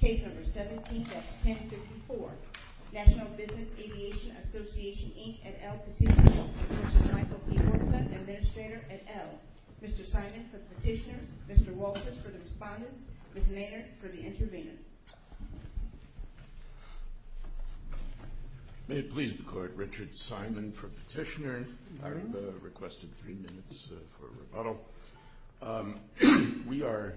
Case No. 17-1054, National Business Aviation Association, Inc. et al. Petitioner v. Michael P. Huerta, Administrator et al. Mr. Simon for the petitioners, Mr. Walters for the respondents, Ms. Maynard for the intervener. May it please the Court, Richard Simon for petitioner. I requested three minutes for rebuttal. Well, we are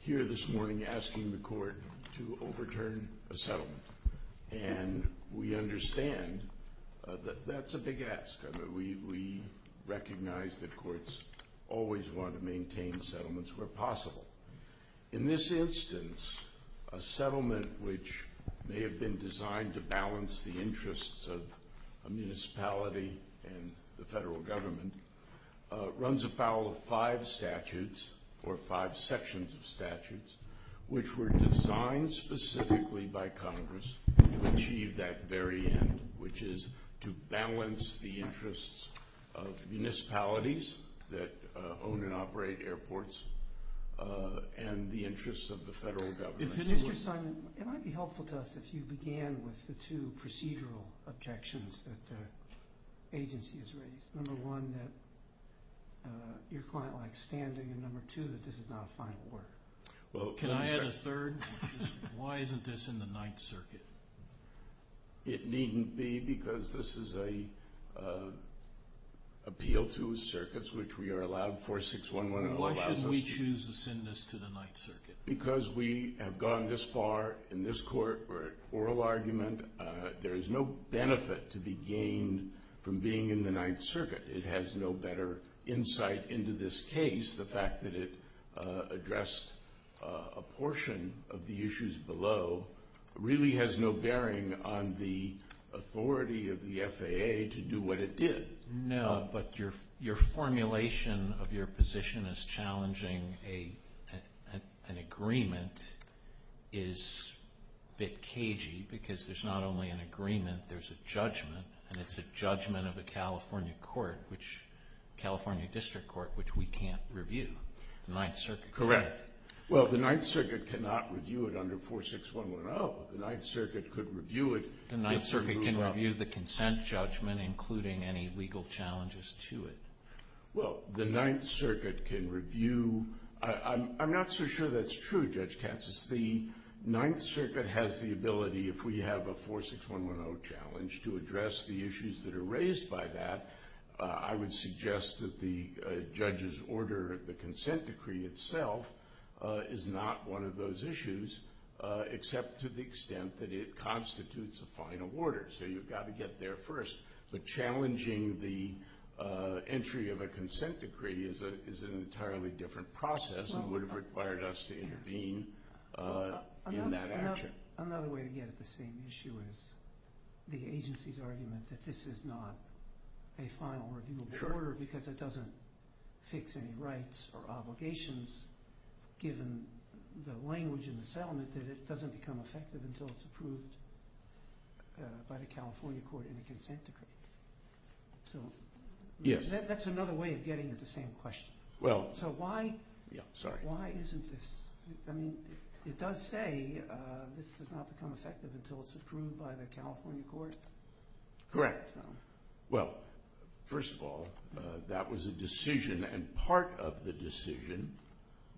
here this morning asking the Court to overturn a settlement, and we understand that that's a big ask. We recognize that courts always want to maintain settlements where possible. In this instance, a settlement which may have been designed to balance the interests of a municipality and the federal government runs afoul of five statutes, or five sections of statutes, which were designed specifically by Congress to achieve that very end, which is to balance the interests of municipalities that own and operate airports and the interests of the federal government. Mr. Simon, it might be helpful to us if you began with the two procedural objections that the agency has raised. Number one, that your client likes standing, and number two, that this is not a final word. Can I add a third? Why isn't this in the Ninth Circuit? It needn't be, because this is an appeal to the circuits, which we are allowed 4611. Why should we choose to send this to the Ninth Circuit? Because we have gone this far in this court for an oral argument, there is no benefit to be gained from being in the Ninth Circuit. It has no better insight into this case. The fact that it addressed a portion of the issues below really has no bearing on the authority of the FAA to do what it did. No, but your formulation of your position as challenging an agreement is a bit cagey, because there is not only an agreement, there is a judgment, and it is a judgment of the California District Court, which we can't review. Correct. Well, the Ninth Circuit cannot review it under 46110. Oh, the Ninth Circuit could review it. The Ninth Circuit can review the consent judgment, including any legal challenges to it. Well, the Ninth Circuit can review. I'm not so sure that's true, Judge Katz. The Ninth Circuit has the ability, if we have a 46110 challenge, to address the issues that are raised by that. I would suggest that the judge's order of the consent decree itself is not one of those issues, except to the extent that it constitutes a final order, so you've got to get there first. But challenging the entry of a consent decree is an entirely different process and would have required us to intervene in that action. Another way to get at the same issue is the agency's argument that this is not a final review of the order because it doesn't fix any rights or obligations, given the language in the settlement, that it doesn't become effective until it's approved by the California court in a consent decree. So that's another way of getting at the same question. So why isn't this? I mean, it does say this does not become effective until it's approved by the California court. Correct. Well, first of all, that was a decision and part of the decision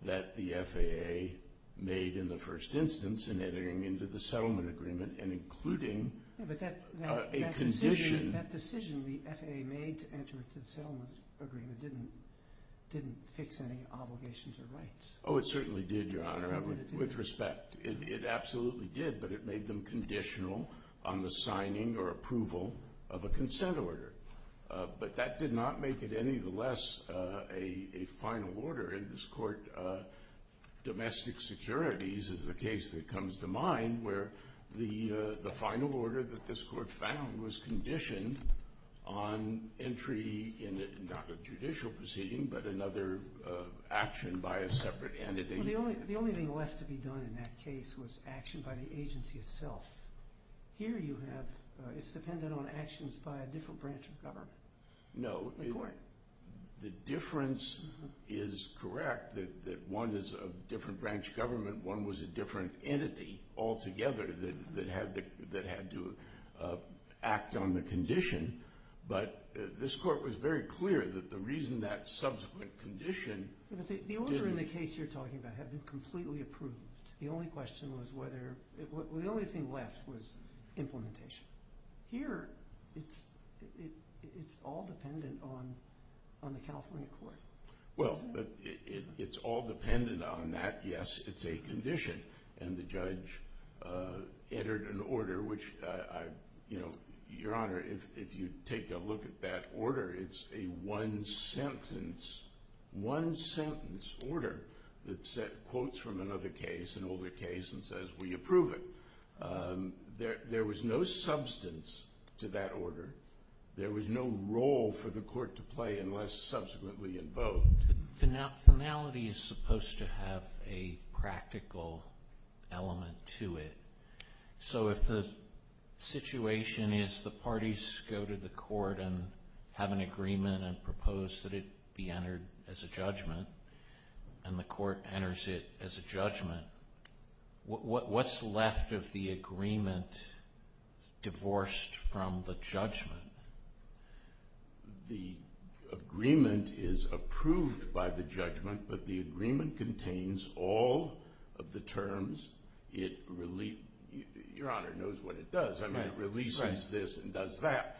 that the FAA made in the first instance in entering into the settlement agreement and including a condition. That decision the FAA made to enter into the settlement agreement didn't fix any obligations or rights. Oh, it certainly did, Your Honor, with respect. It absolutely did, but it made them conditional on the signing or approval of a consent order. But that did not make it any the less a final order. In this court, domestic securities is the case that comes to mind where the final order that this court found was conditioned on entry in not a judicial proceeding but another action by a separate entity. The only thing left to be done in that case was action by the agency itself. Here you have it's dependent on actions by a different branch of government. No, the difference is correct that one is a different branch of government. One was a different entity altogether that had to act on the condition. But this court was very clear that the reason that subsequent condition didn't... The order in the case you're talking about had been completely approved. The only question was whether... the only thing left was implementation. Here it's all dependent on the California court. Well, it's all dependent on that. Yes, it's a condition. And the judge entered an order which, Your Honor, if you take a look at that order, it's a one-sentence order that quotes from another case, an older case, and says, will you approve it? There was no substance to that order. There was no role for the court to play unless subsequently invoked. Finality is supposed to have a practical element to it. So if the situation is the parties go to the court and have an agreement and propose that it be entered as a judgment and the court enters it as a judgment, what's left of the agreement divorced from the judgment? The agreement is approved by the judgment, but the agreement contains all of the terms it... Your Honor knows what it does. I mean, it releases this and does that.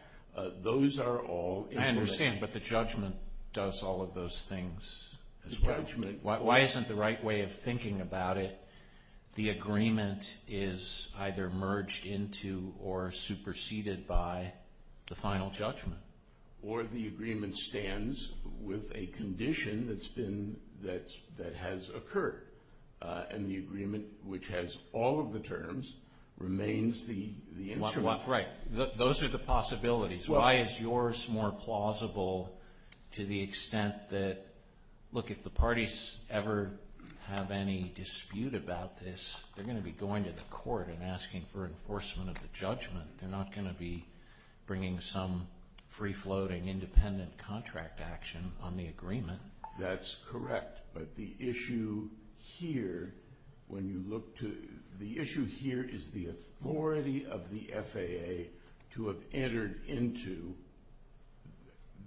Those are all... I understand, but the judgment does all of those things as well. Why isn't the right way of thinking about it, the agreement is either merged into or superseded by the final judgment? Or the agreement stands with a condition that has occurred, and the agreement which has all of the terms remains the instrument. Right. Those are the possibilities. Why is yours more plausible to the extent that, look, if the parties ever have any dispute about this, they're going to be going to the court and asking for enforcement of the judgment. They're not going to be bringing some free-floating independent contract action on the agreement. That's correct, but the issue here when you look to...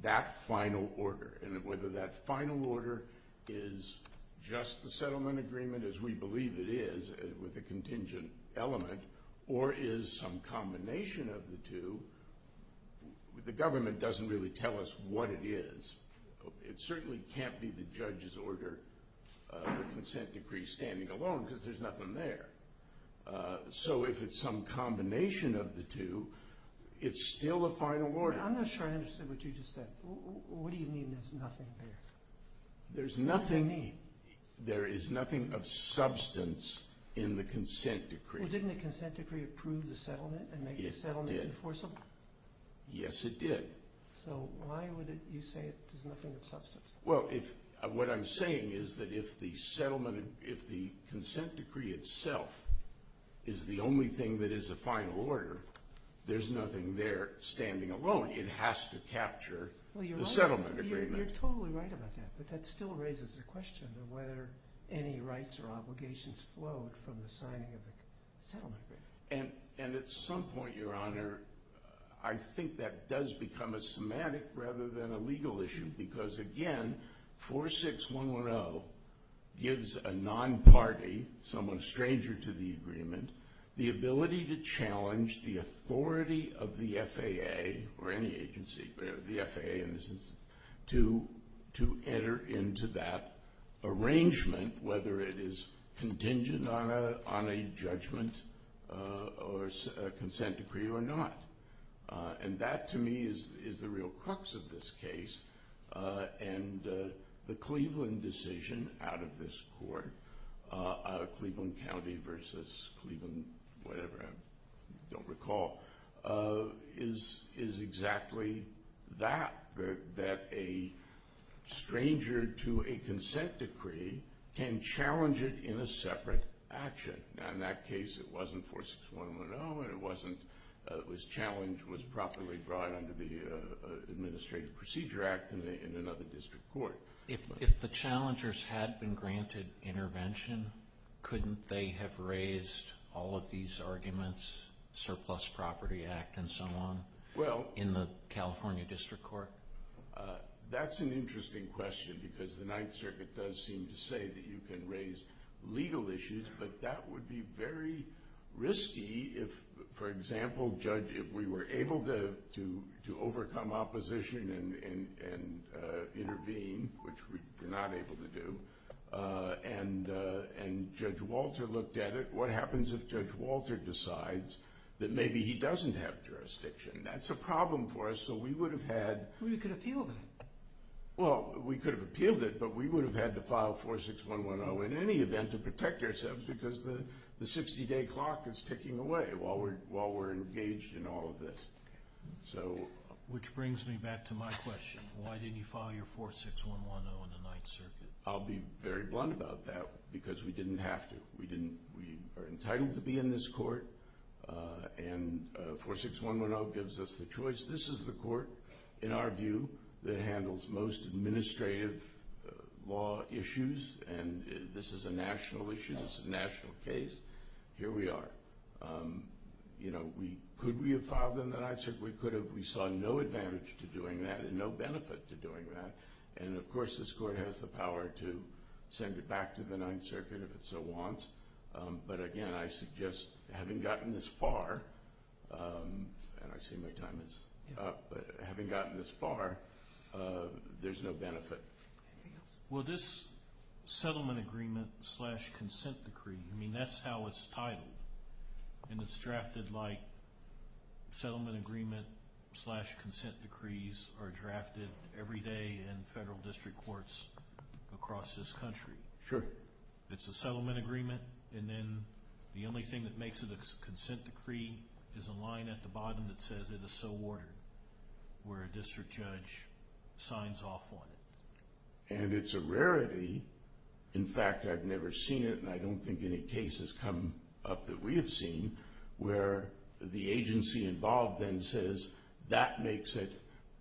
that final order, and whether that final order is just the settlement agreement, as we believe it is, with a contingent element, or is some combination of the two, the government doesn't really tell us what it is. It certainly can't be the judge's order, the consent decree standing alone, because there's nothing there. So if it's some combination of the two, it's still a final order. I'm not sure I understand what you just said. What do you mean there's nothing there? There's nothing... What do you mean? There is nothing of substance in the consent decree. Well, didn't the consent decree approve the settlement and make the settlement enforceable? So why would you say there's nothing of substance? Well, what I'm saying is that if the consent decree itself is the only thing that is a final order, there's nothing there standing alone. It has to capture the settlement agreement. You're totally right about that, but that still raises the question of whether any rights or obligations flowed from the signing of the settlement agreement. And at some point, Your Honor, I think that does become a semantic rather than a legal issue, because again, 46110 gives a non-party, someone stranger to the agreement, the ability to challenge the authority of the FAA or any agency, the FAA in this instance, to enter into that arrangement, whether it is contingent on a judgment or a consent decree or not. And that, to me, is the real crux of this case. And the Cleveland decision out of this court, out of Cleveland County versus Cleveland whatever, I don't recall, is exactly that, that a stranger to a consent decree can challenge it in a separate action. In that case, it wasn't 46110, and it wasn't, it was challenged, was properly brought under the Administrative Procedure Act in another district court. If the challengers had been granted intervention, couldn't they have raised all of these arguments, Surplus Property Act and so on, in the California District Court? That's an interesting question, because the Ninth Circuit does seem to say that you can raise legal issues, but that would be very risky if, for example, Judge, if we were able to overcome opposition and intervene, which we're not able to do, and Judge Walter looked at it, what happens if Judge Walter decides that maybe he doesn't have jurisdiction? That's a problem for us, so we would have had... Well, you could have appealed it. Well, we could have appealed it, but we would have had to file 46110 in any event to protect ourselves, because the 60-day clock is ticking away while we're engaged in all of this. Which brings me back to my question. Why didn't you file your 46110 in the Ninth Circuit? I'll be very blunt about that, because we didn't have to. We are entitled to be in this court, and 46110 gives us the choice. This is the court, in our view, that handles most administrative law issues, and this is a national issue. This is a national case. Here we are. Could we have filed it in the Ninth Circuit? We could have. We saw no advantage to doing that and no benefit to doing that, and, of course, this court has the power to send it back to the Ninth Circuit if it so wants. But, again, I suggest, having gotten this far, and I see my time is up, but having gotten this far, there's no benefit. Well, this settlement agreement slash consent decree, I mean, that's how it's titled, and it's drafted like settlement agreement slash consent decrees are drafted every day in federal district courts across this country. Sure. It's a settlement agreement, and then the only thing that makes it a consent decree is a line at the bottom that says it is so ordered, where a district judge signs off on it. And it's a rarity. In fact, I've never seen it, and I don't think any case has come up that we have seen, where the agency involved then says that makes it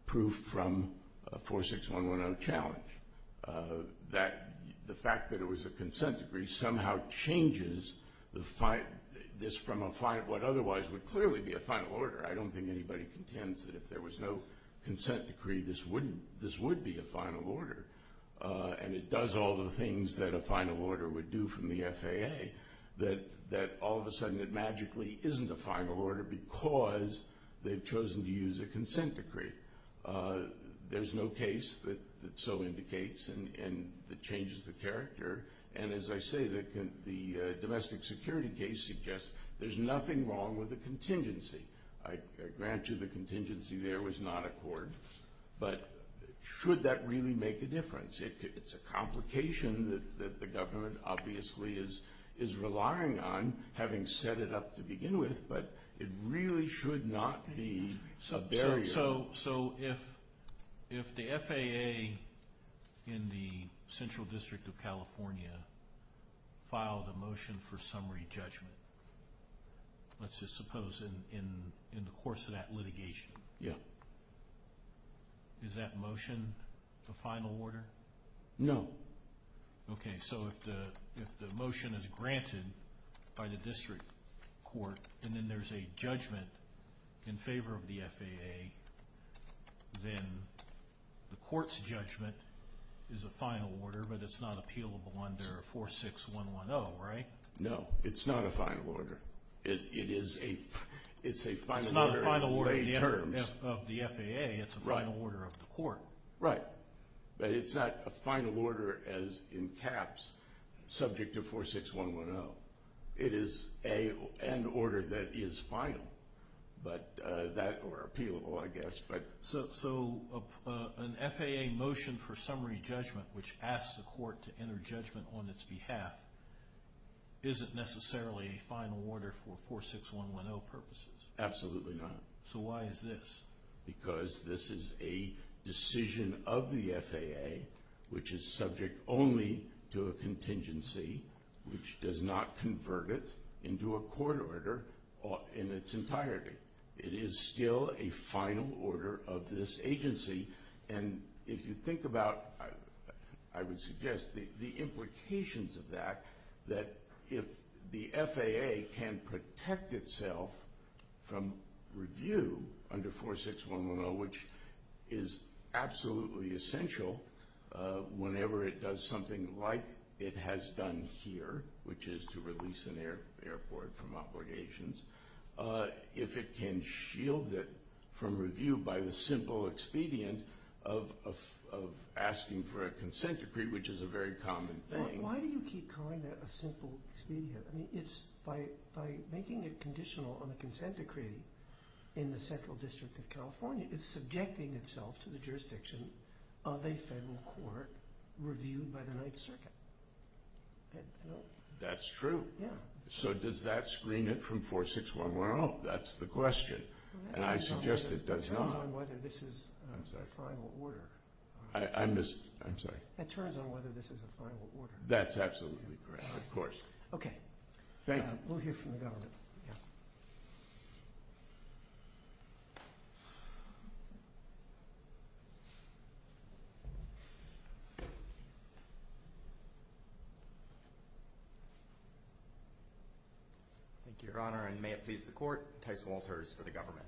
proof from a 46110 challenge. That the fact that it was a consent decree somehow changes this from what otherwise would clearly be a final order. I don't think anybody contends that if there was no consent decree, this would be a final order, and it does all the things that a final order would do from the FAA, that all of a sudden it magically isn't a final order because they've chosen to use a consent decree. There's no case that so indicates and that changes the character. And as I say, the domestic security case suggests there's nothing wrong with the contingency. I grant you the contingency there was not a court, but should that really make a difference? It's a complication that the government obviously is relying on, having set it up to begin with, but it really should not be a barrier. So if the FAA in the Central District of California filed a motion for summary judgment, let's just suppose in the course of that litigation, is that motion a final order? No. Okay, so if the motion is granted by the district court, and then there's a judgment in favor of the FAA, then the court's judgment is a final order, but it's not appealable under 46110, right? No, it's not a final order. It's a final order in lay terms. It's not a final order of the FAA. It's a final order of the court. Right, but it's not a final order as in caps, subject to 46110. It is an order that is final, or appealable, I guess. So an FAA motion for summary judgment, which asks the court to enter judgment on its behalf, isn't necessarily a final order for 46110 purposes? Absolutely not. So why is this? Because this is a decision of the FAA, which is subject only to a contingency, which does not convert it into a court order in its entirety. It is still a final order of this agency. And if you think about, I would suggest, the implications of that, that if the FAA can protect itself from review under 46110, which is absolutely essential whenever it does something like it has done here, which is to release an airport from obligations, if it can shield it from review by the simple expedient of asking for a consent decree, which is a very common thing. Why do you keep calling that a simple expedient? By making it conditional on a consent decree in the Central District of California, it's subjecting itself to the jurisdiction of a federal court reviewed by the Ninth Circuit. That's true. So does that screen it from 46110? That's the question, and I suggest it does not. It turns on whether this is a final order. I'm sorry? It turns on whether this is a final order. That's absolutely correct, of course. Okay. Thank you. We'll hear from the government. Thank you, Your Honor, and may it please the Court, Tyson Walters for the government.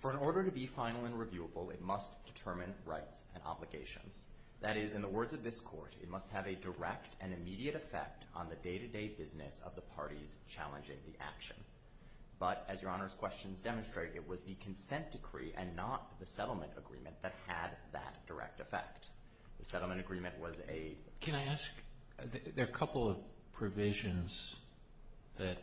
For an order to be final and reviewable, it must determine rights and obligations. That is, in the words of this Court, it must have a direct and immediate effect on the day-to-day business of the parties challenging the action. But as Your Honor's questions demonstrated, it was the consent decree and not the settlement agreement that had that direct effect. The settlement agreement was a— Can I ask? There are a couple of provisions that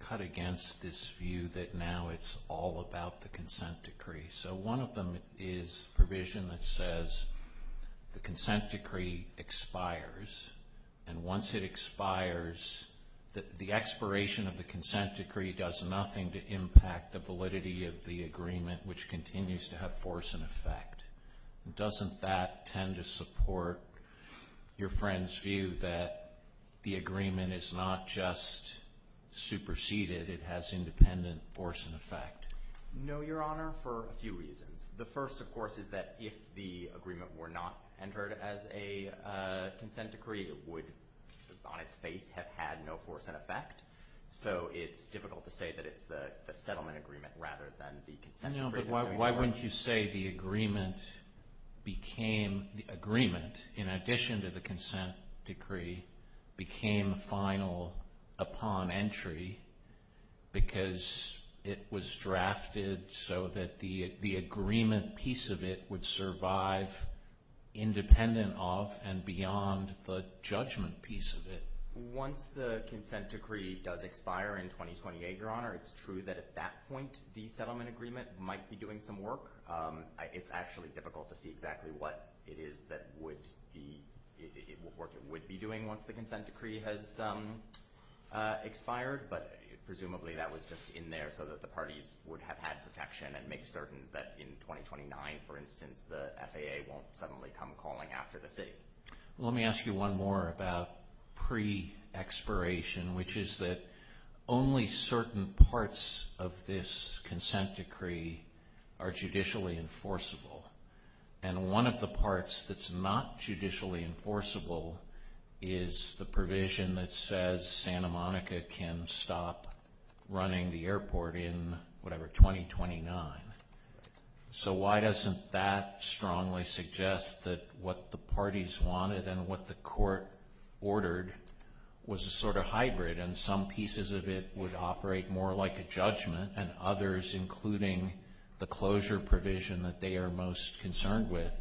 cut against this view that now it's all about the consent decree. So one of them is provision that says the consent decree expires, and once it expires, the expiration of the consent decree does nothing to impact the validity of the agreement, which continues to have force and effect. Doesn't that tend to support your friend's view that the agreement is not just superseded, it has independent force and effect? No, Your Honor, for a few reasons. The first, of course, is that if the agreement were not entered as a consent decree, it would, on its face, have had no force and effect. So it's difficult to say that it's the settlement agreement rather than the consent decree. No, but why wouldn't you say the agreement became— the agreement, in addition to the consent decree, became final upon entry because it was drafted so that the agreement piece of it would survive independent of and beyond the judgment piece of it? Once the consent decree does expire in 2028, Your Honor, it's true that at that point the settlement agreement might be doing some work. It's actually difficult to see exactly what it is that would be— what work it would be doing once the consent decree has expired, but presumably that was just in there so that the parties would have had protection and make certain that in 2029, for instance, the FAA won't suddenly come calling after the city. Let me ask you one more about pre-expiration, which is that only certain parts of this consent decree are judicially enforceable, and one of the parts that's not judicially enforceable is the provision that says Santa Monica can stop running the airport in, whatever, 2029. So why doesn't that strongly suggest that what the parties wanted and what the court ordered was a sort of hybrid, and some pieces of it would operate more like a judgment, and others, including the closure provision that they are most concerned with,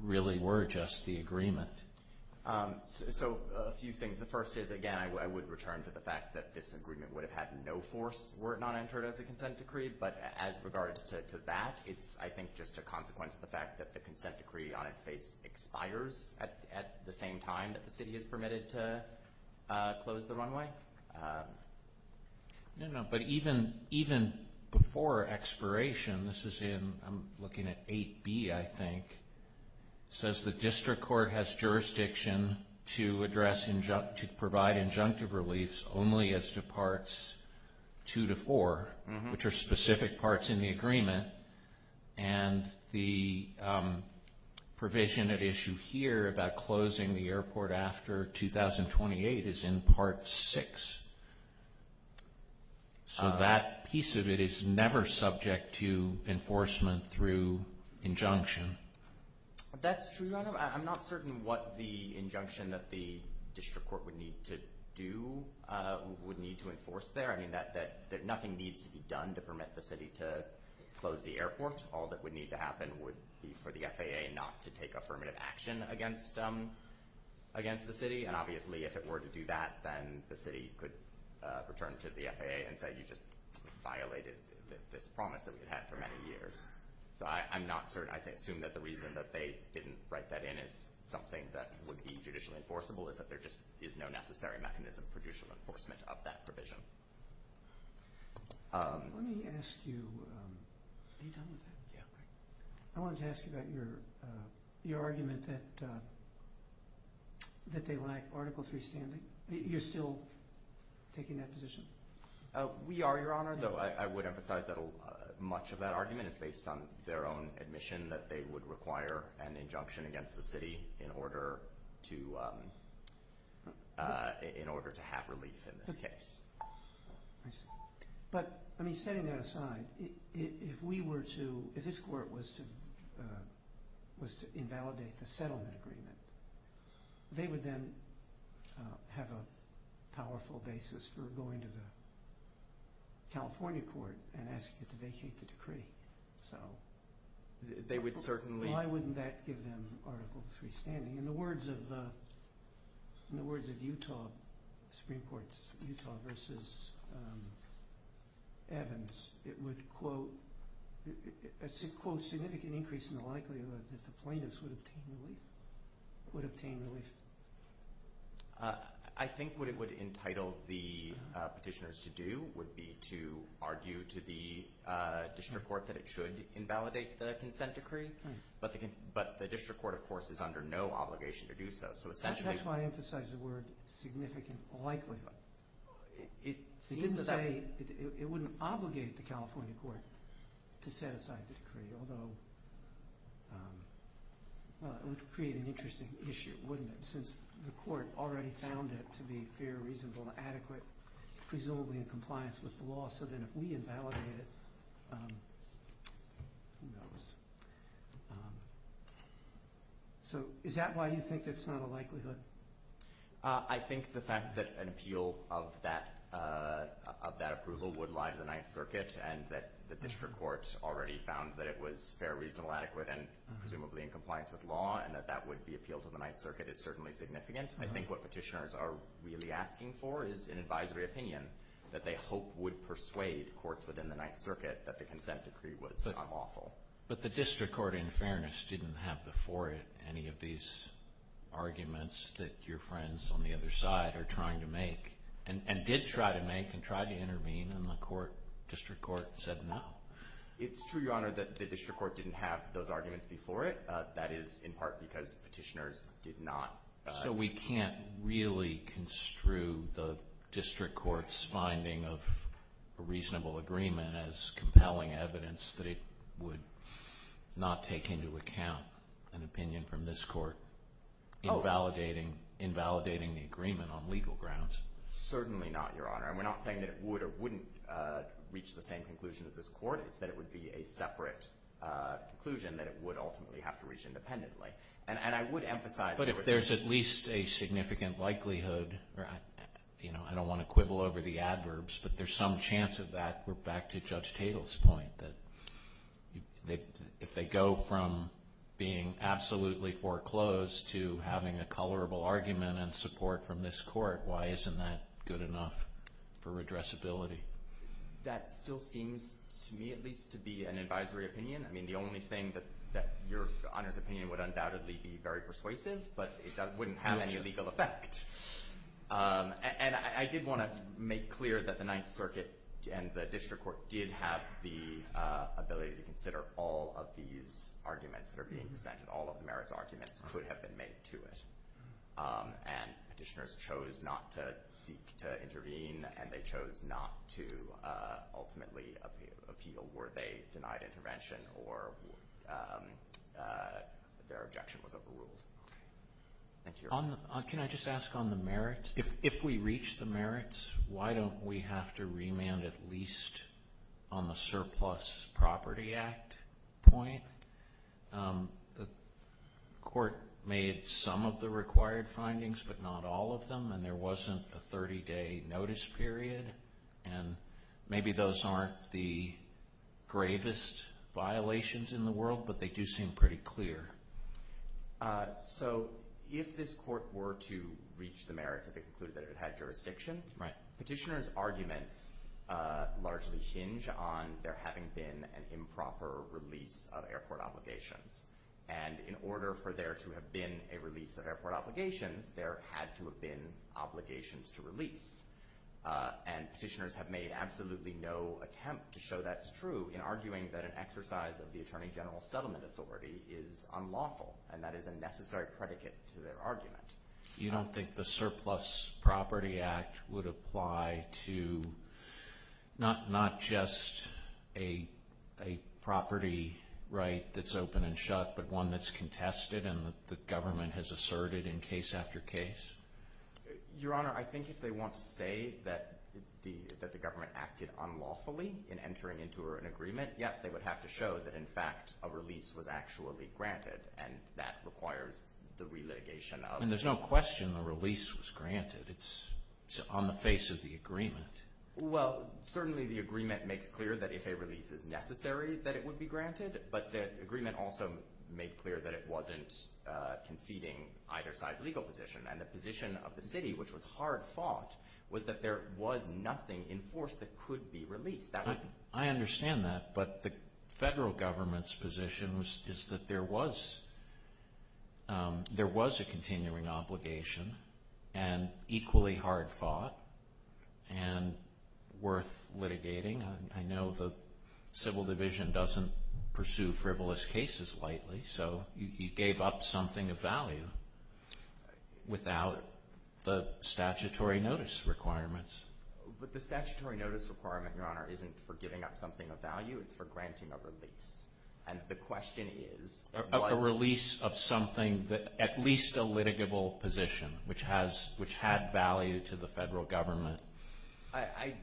really were just the agreement? So a few things. The first is, again, I would return to the fact that this agreement would have had no force were it not entered as a consent decree, but as regards to that, it's, I think, just a consequence of the fact that the consent decree on its face expires at the same time that the city is permitted to close the runway. No, no, but even before expiration, this is in, I'm looking at 8B, I think, says the district court has jurisdiction to provide injunctive reliefs only as to parts 2 to 4, and the provision at issue here about closing the airport after 2028 is in part 6. So that piece of it is never subject to enforcement through injunction. That's true. I'm not certain what the injunction that the district court would need to do, would need to enforce there. I mean, nothing needs to be done to permit the city to close the airport. All that would need to happen would be for the FAA not to take affirmative action against the city, and obviously if it were to do that, then the city could return to the FAA and say, you just violated this promise that we had for many years. So I'm not certain. I assume that the reason that they didn't write that in is something that would be judicially enforceable, is that there just is no necessary mechanism for judicial enforcement of that provision. Let me ask you, are you done with that? Yeah. I wanted to ask you about your argument that they lack Article 3 standing. You're still taking that position? We are, Your Honor, though I would emphasize that much of that argument is based on their own admission that they would require an injunction against the city in order to have relief in this case. I see. But, I mean, setting that aside, if we were to, if this court was to invalidate the settlement agreement, they would then have a powerful basis for going to the California court and asking it to vacate the decree. So they would certainly... Why wouldn't that give them Article 3 standing? In the words of Utah Supreme Court's Utah v. Evans, it would, quote, quote, significant increase in the likelihood that the plaintiffs would obtain relief. I think what it would entitle the petitioners to do would be to argue to the district court that it should invalidate the consent decree, but the district court, of course, is under no obligation to do so. That's why I emphasize the word significant likelihood. It seems to say it wouldn't obligate the California court to set aside the decree, although it would create an interesting issue, wouldn't it, since the court already found it to be fair, reasonable, adequate, presumably in compliance with the law, so then if we invalidate it, who knows? So is that why you think it's not a likelihood? I think the fact that an appeal of that approval would lie to the Ninth Circuit and that the district court already found that it was fair, reasonable, adequate, and presumably in compliance with law and that that would be appealed to the Ninth Circuit is certainly significant. I think what petitioners are really asking for is an advisory opinion that they hope would persuade courts within the Ninth Circuit that the consent decree was unlawful. But the district court, in fairness, didn't have before it any of these arguments that your friends on the other side are trying to make and did try to make and tried to intervene, and the district court said no. It's true, Your Honor, that the district court didn't have those arguments before it. That is in part because petitioners did not. So we can't really construe the district court's finding of a reasonable agreement as compelling evidence that it would not take into account an opinion from this court in validating the agreement on legal grounds. Certainly not, Your Honor. We're not saying that it would or wouldn't reach the same conclusion as this court. It's that it would be a separate conclusion that it would ultimately have to reach independently. And I would emphasize— But if there's at least a significant likelihood— I don't want to quibble over the adverbs, but there's some chance of that. We're back to Judge Tatel's point that if they go from being absolutely foreclosed to having a colorable argument and support from this court, why isn't that good enough for redressability? That still seems, to me at least, to be an advisory opinion. I mean, the only thing that— Your Honor's opinion would undoubtedly be very persuasive, but it wouldn't have any legal effect. And I did want to make clear that the Ninth Circuit and the district court did have the ability to consider all of these arguments that are being presented. All of the merits arguments could have been made to it. And Petitioners chose not to seek to intervene, and they chose not to ultimately appeal were they denied intervention Thank you, Your Honor. Can I just ask on the merits? If we reach the merits, why don't we have to remand at least on the Surplus Property Act point? The court made some of the required findings, but not all of them, and there wasn't a 30-day notice period. And maybe those aren't the gravest violations in the world, but they do seem pretty clear. So, if this court were to reach the merits, if it concluded that it had jurisdiction, Petitioners' arguments largely hinge on there having been an improper release of airport obligations. And in order for there to have been a release of airport obligations, there had to have been obligations to release. And Petitioners have made absolutely no attempt to show that's true in arguing that an exercise of the Attorney General's settlement authority is unlawful, and that is a necessary predicate to their argument. You don't think the Surplus Property Act would apply to not just a property right that's open and shut, but one that's contested and the government has asserted in case after case? Your Honor, I think if they want to say that the government acted unlawfully in entering into an agreement, yes, they would have to show that, in fact, a release was actually granted, and that requires the relitigation of. And there's no question the release was granted. It's on the face of the agreement. Well, certainly the agreement makes clear that if a release is necessary, that it would be granted, but the agreement also made clear that it wasn't conceding either side's legal position. And the position of the city, which was hard-fought, was that there was nothing in force that could be released. I understand that, but the federal government's position is that there was a continuing obligation and equally hard-fought and worth litigating. I know the Civil Division doesn't pursue frivolous cases lightly, so you gave up something of value without the statutory notice requirements. But the statutory notice requirement, Your Honor, isn't for giving up something of value. It's for granting a release, and the question is was it? A release of something, at least a litigable position, which had value to the federal government. I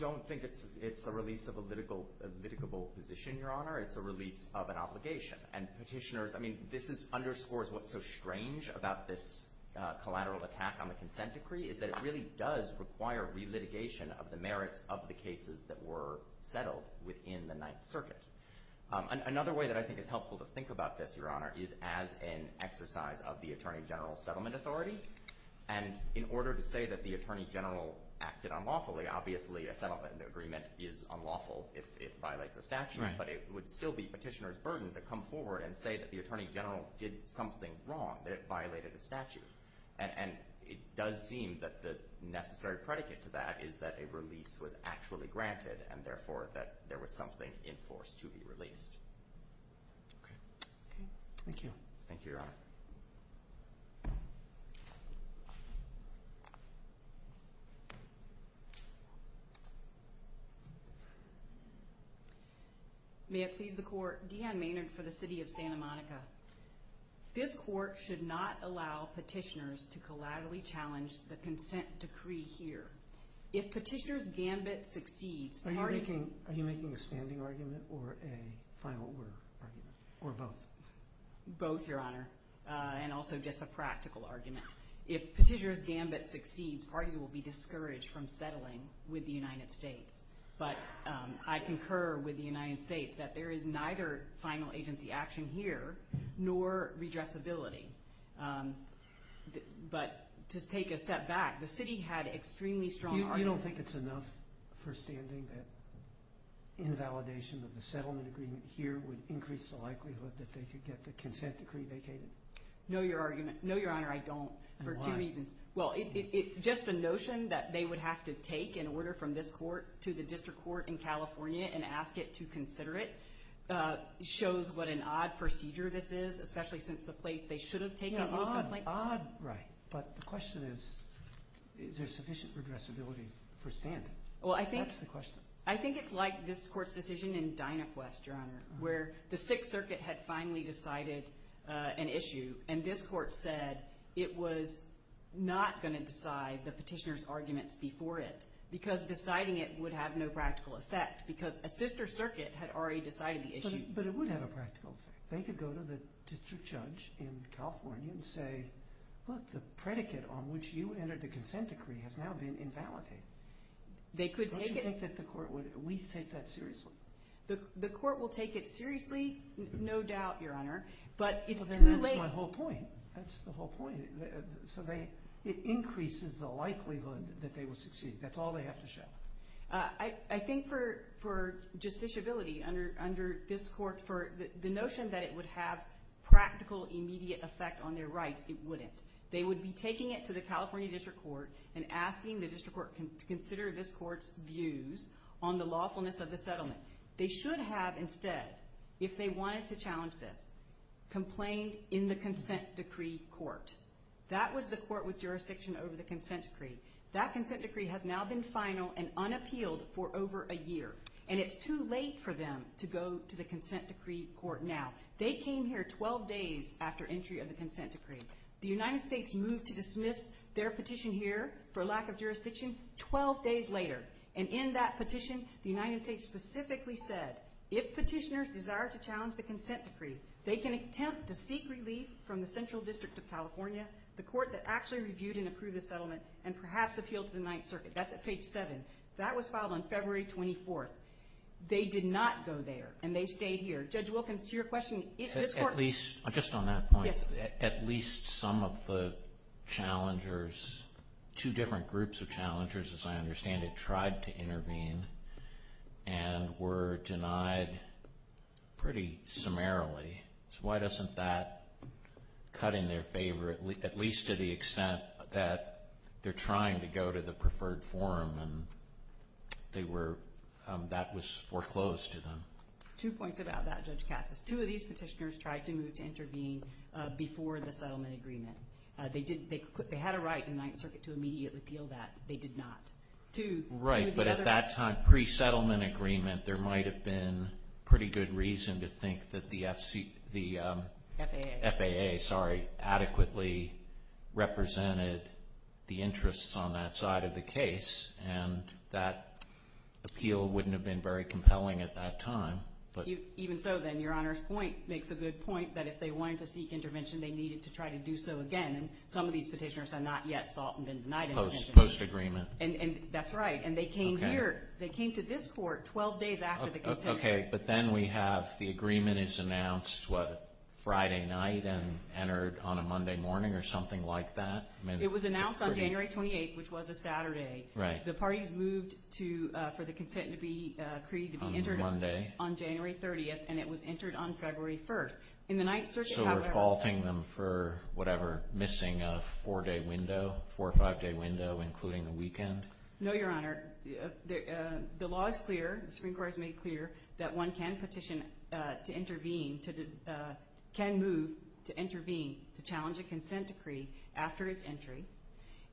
don't think it's a release of a litigable position, Your Honor. It's a release of an obligation. And petitioners, I mean, this underscores what's so strange about this collateral attack on the consent decree is that it really does require relitigation of the merits of the cases that were settled within the Ninth Circuit. Another way that I think is helpful to think about this, Your Honor, is as an exercise of the Attorney General's settlement authority. And in order to say that the Attorney General acted unlawfully, obviously a settlement agreement is unlawful if it violates a statute, but it would still be petitioner's burden to come forward and say that the Attorney General did something wrong, that it violated a statute. And it does seem that the necessary predicate to that is that a release was actually granted and, therefore, that there was something in force to be released. Okay. Thank you. Thank you, Your Honor. May it please the Court. Deanne Maynard for the City of Santa Monica. This Court should not allow petitioners to collaterally challenge the consent decree here. If petitioner's gambit succeeds, parties— Are you making a standing argument or a final order argument, or both? Both, Your Honor, and also just a practical argument. If petitioner's gambit succeeds, parties will be discouraged from settling with the United States. But I concur with the United States that there is neither final agency action here nor redressability. But to take a step back, the city had extremely strong argument— You don't think it's enough for standing that invalidation of the settlement agreement here would increase the likelihood that they could get the consent decree vacated? No, Your Honor, I don't, for two reasons. And why? Well, just the notion that they would have to take an order from this court to the district court in California and ask it to consider it shows what an odd procedure this is, especially since the place they should have taken it would have been— Yeah, odd, odd, right. But the question is, is there sufficient redressability for standing? Well, I think— That's the question. I think it's like this court's decision in Dynapwest, Your Honor, where the Sixth Circuit had finally decided an issue, and this court said it was not going to decide the petitioner's arguments before it because deciding it would have no practical effect because a sister circuit had already decided the issue. But it would have a practical effect. They could go to the district judge in California and say, look, the predicate on which you entered the consent decree has now been invalidated. They could take it— Don't you think that the court would at least take that seriously? The court will take it seriously, no doubt, Your Honor, but it's too late— And that's my whole point. That's the whole point. So it increases the likelihood that they will succeed. That's all they have to show. I think for justiciability under this court, for the notion that it would have practical immediate effect on their rights, it wouldn't. They would be taking it to the California district court and asking the district court to consider this court's views on the lawfulness of the settlement. They should have instead, if they wanted to challenge this, complained in the consent decree court. That was the court with jurisdiction over the consent decree. That consent decree has now been final and unappealed for over a year. And it's too late for them to go to the consent decree court now. They came here 12 days after entry of the consent decree. The United States moved to dismiss their petition here for lack of jurisdiction 12 days later. And in that petition, the United States specifically said, if petitioners desire to challenge the consent decree, they can attempt to seek relief from the Central District of California, the court that actually reviewed and approved the settlement, and perhaps appeal to the Ninth Circuit. That's at page 7. That was filed on February 24th. They did not go there, and they stayed here. Judge Wilkins, to your question, this court— At least, just on that point, at least some of the challengers, two different groups of challengers, as I understand it, tried to intervene and were denied pretty summarily. So why doesn't that cut in their favor, at least to the extent that they're trying to go to the preferred forum, and that was foreclosed to them? Two points about that, Judge Katz. Two of these petitioners tried to move to intervene before the settlement agreement. They had a right in the Ninth Circuit to immediately appeal that. They did not. Right, but at that time, pre-settlement agreement, there might have been pretty good reason to think that the FAA adequately represented the interests on that side of the case, and that appeal wouldn't have been very compelling at that time. Even so, then, Your Honor's point makes a good point, that if they wanted to seek intervention, they needed to try to do so again, and some of these petitioners are not yet salt and denied intervention. Post-agreement. That's right, and they came here. They came to this court 12 days after the consent. Okay, but then we have the agreement is announced, what, Friday night and entered on a Monday morning or something like that? It was announced on January 28th, which was a Saturday. The parties moved for the consent to be created to be entered on January 30th, and it was entered on February 1st. In the Ninth Circuit, however. So we're faulting them for, whatever, missing a four-day window, four or five-day window, including the weekend? No, Your Honor. The law is clear, the Supreme Court has made clear, that one can petition to intervene, can move to intervene, to challenge a consent decree after its entry,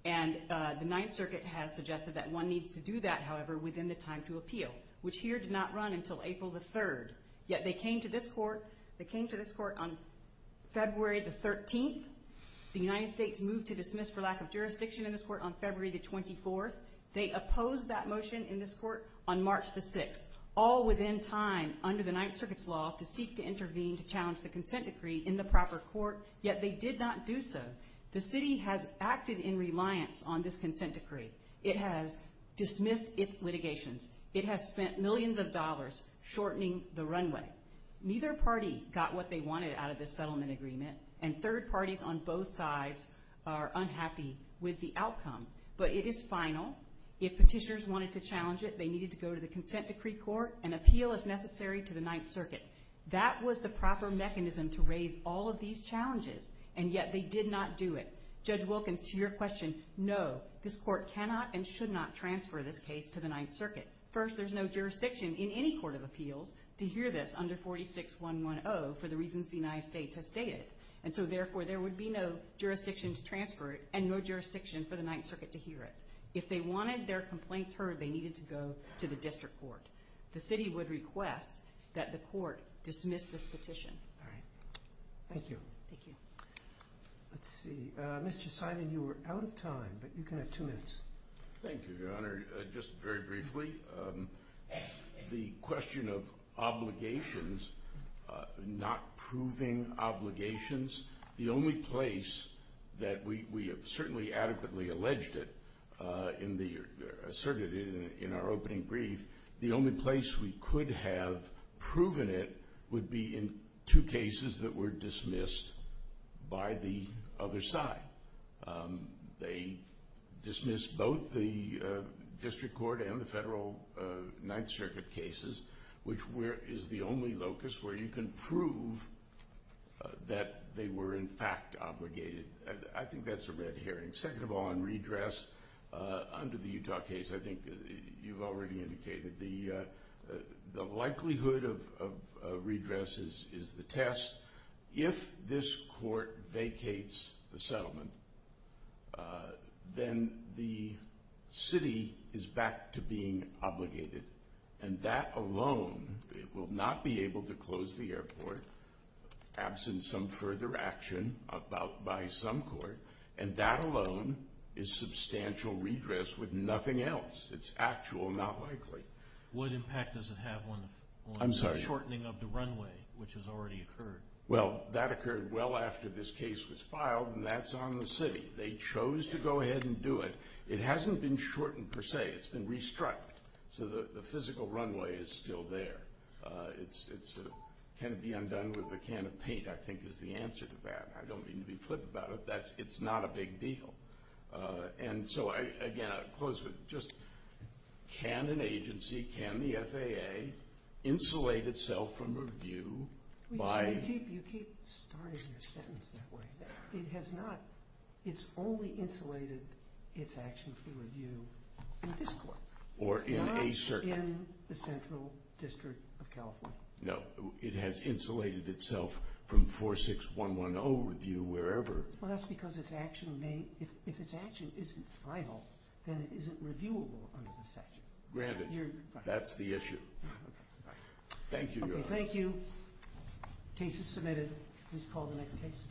and the Ninth Circuit has suggested that one needs to do that, however, within the time to appeal, which here did not run until April the 3rd. Yet they came to this court on February the 13th. The United States moved to dismiss for lack of jurisdiction in this court on February the 24th. They opposed that motion in this court on March the 6th, all within time under the Ninth Circuit's law to seek to intervene to challenge the consent decree in the proper court, yet they did not do so. The city has acted in reliance on this consent decree. It has dismissed its litigations. It has spent millions of dollars shortening the runway. Neither party got what they wanted out of this settlement agreement, and third parties on both sides are unhappy with the outcome, but it is final. If petitioners wanted to challenge it, they needed to go to the consent decree court and appeal, if necessary, to the Ninth Circuit. That was the proper mechanism to raise all of these challenges, and yet they did not do it. Judge Wilkins, to your question, no, this court cannot and should not transfer this case to the Ninth Circuit. First, there's no jurisdiction in any court of appeals to hear this under 46110 for the reasons the United States has stated, and so therefore there would be no jurisdiction to transfer it and no jurisdiction for the Ninth Circuit to hear it. If they wanted their complaints heard, they needed to go to the district court. The city would request that the court dismiss this petition. All right. Thank you. Thank you. Let's see. Mr. Simon, you were out of time, but you can have two minutes. Thank you, Your Honor. Just very briefly, the question of obligations, not proving obligations, the only place that we have certainly adequately alleged it in the circuit in our opening brief, the only place we could have proven it would be in two cases that were dismissed by the other side. They dismissed both the district court and the federal Ninth Circuit cases, which is the only locus where you can prove that they were in fact obligated. I think that's a red herring. Second of all, on redress, under the Utah case, I think you've already indicated, the likelihood of redress is the test. If this court vacates the settlement, then the city is back to being obligated, and that alone, it will not be able to close the airport, absent some further action by some court, and that alone is substantial redress with nothing else. It's actual, not likely. What impact does it have on the shortening of the runway, which has already occurred? Well, that occurred well after this case was filed, and that's on the city. They chose to go ahead and do it. It hasn't been shortened per se. It's been restructured, so the physical runway is still there. Can it be undone with a can of paint, I think, is the answer to that. I don't mean to be flip about it. It's not a big deal. And so, again, I'll close with just can an agency, can the FAA, insulate itself from review by— You keep starting your sentence that way. It has not. It's only insulated its action for review in this court. Or in a certain— Not in the Central District of California. No. It has insulated itself from 46110 review, wherever. Well, that's because if its action isn't final, then it isn't reviewable under the statute. Granted, that's the issue. Thank you, Your Honor. Okay, thank you. Case is submitted. Please call the next case.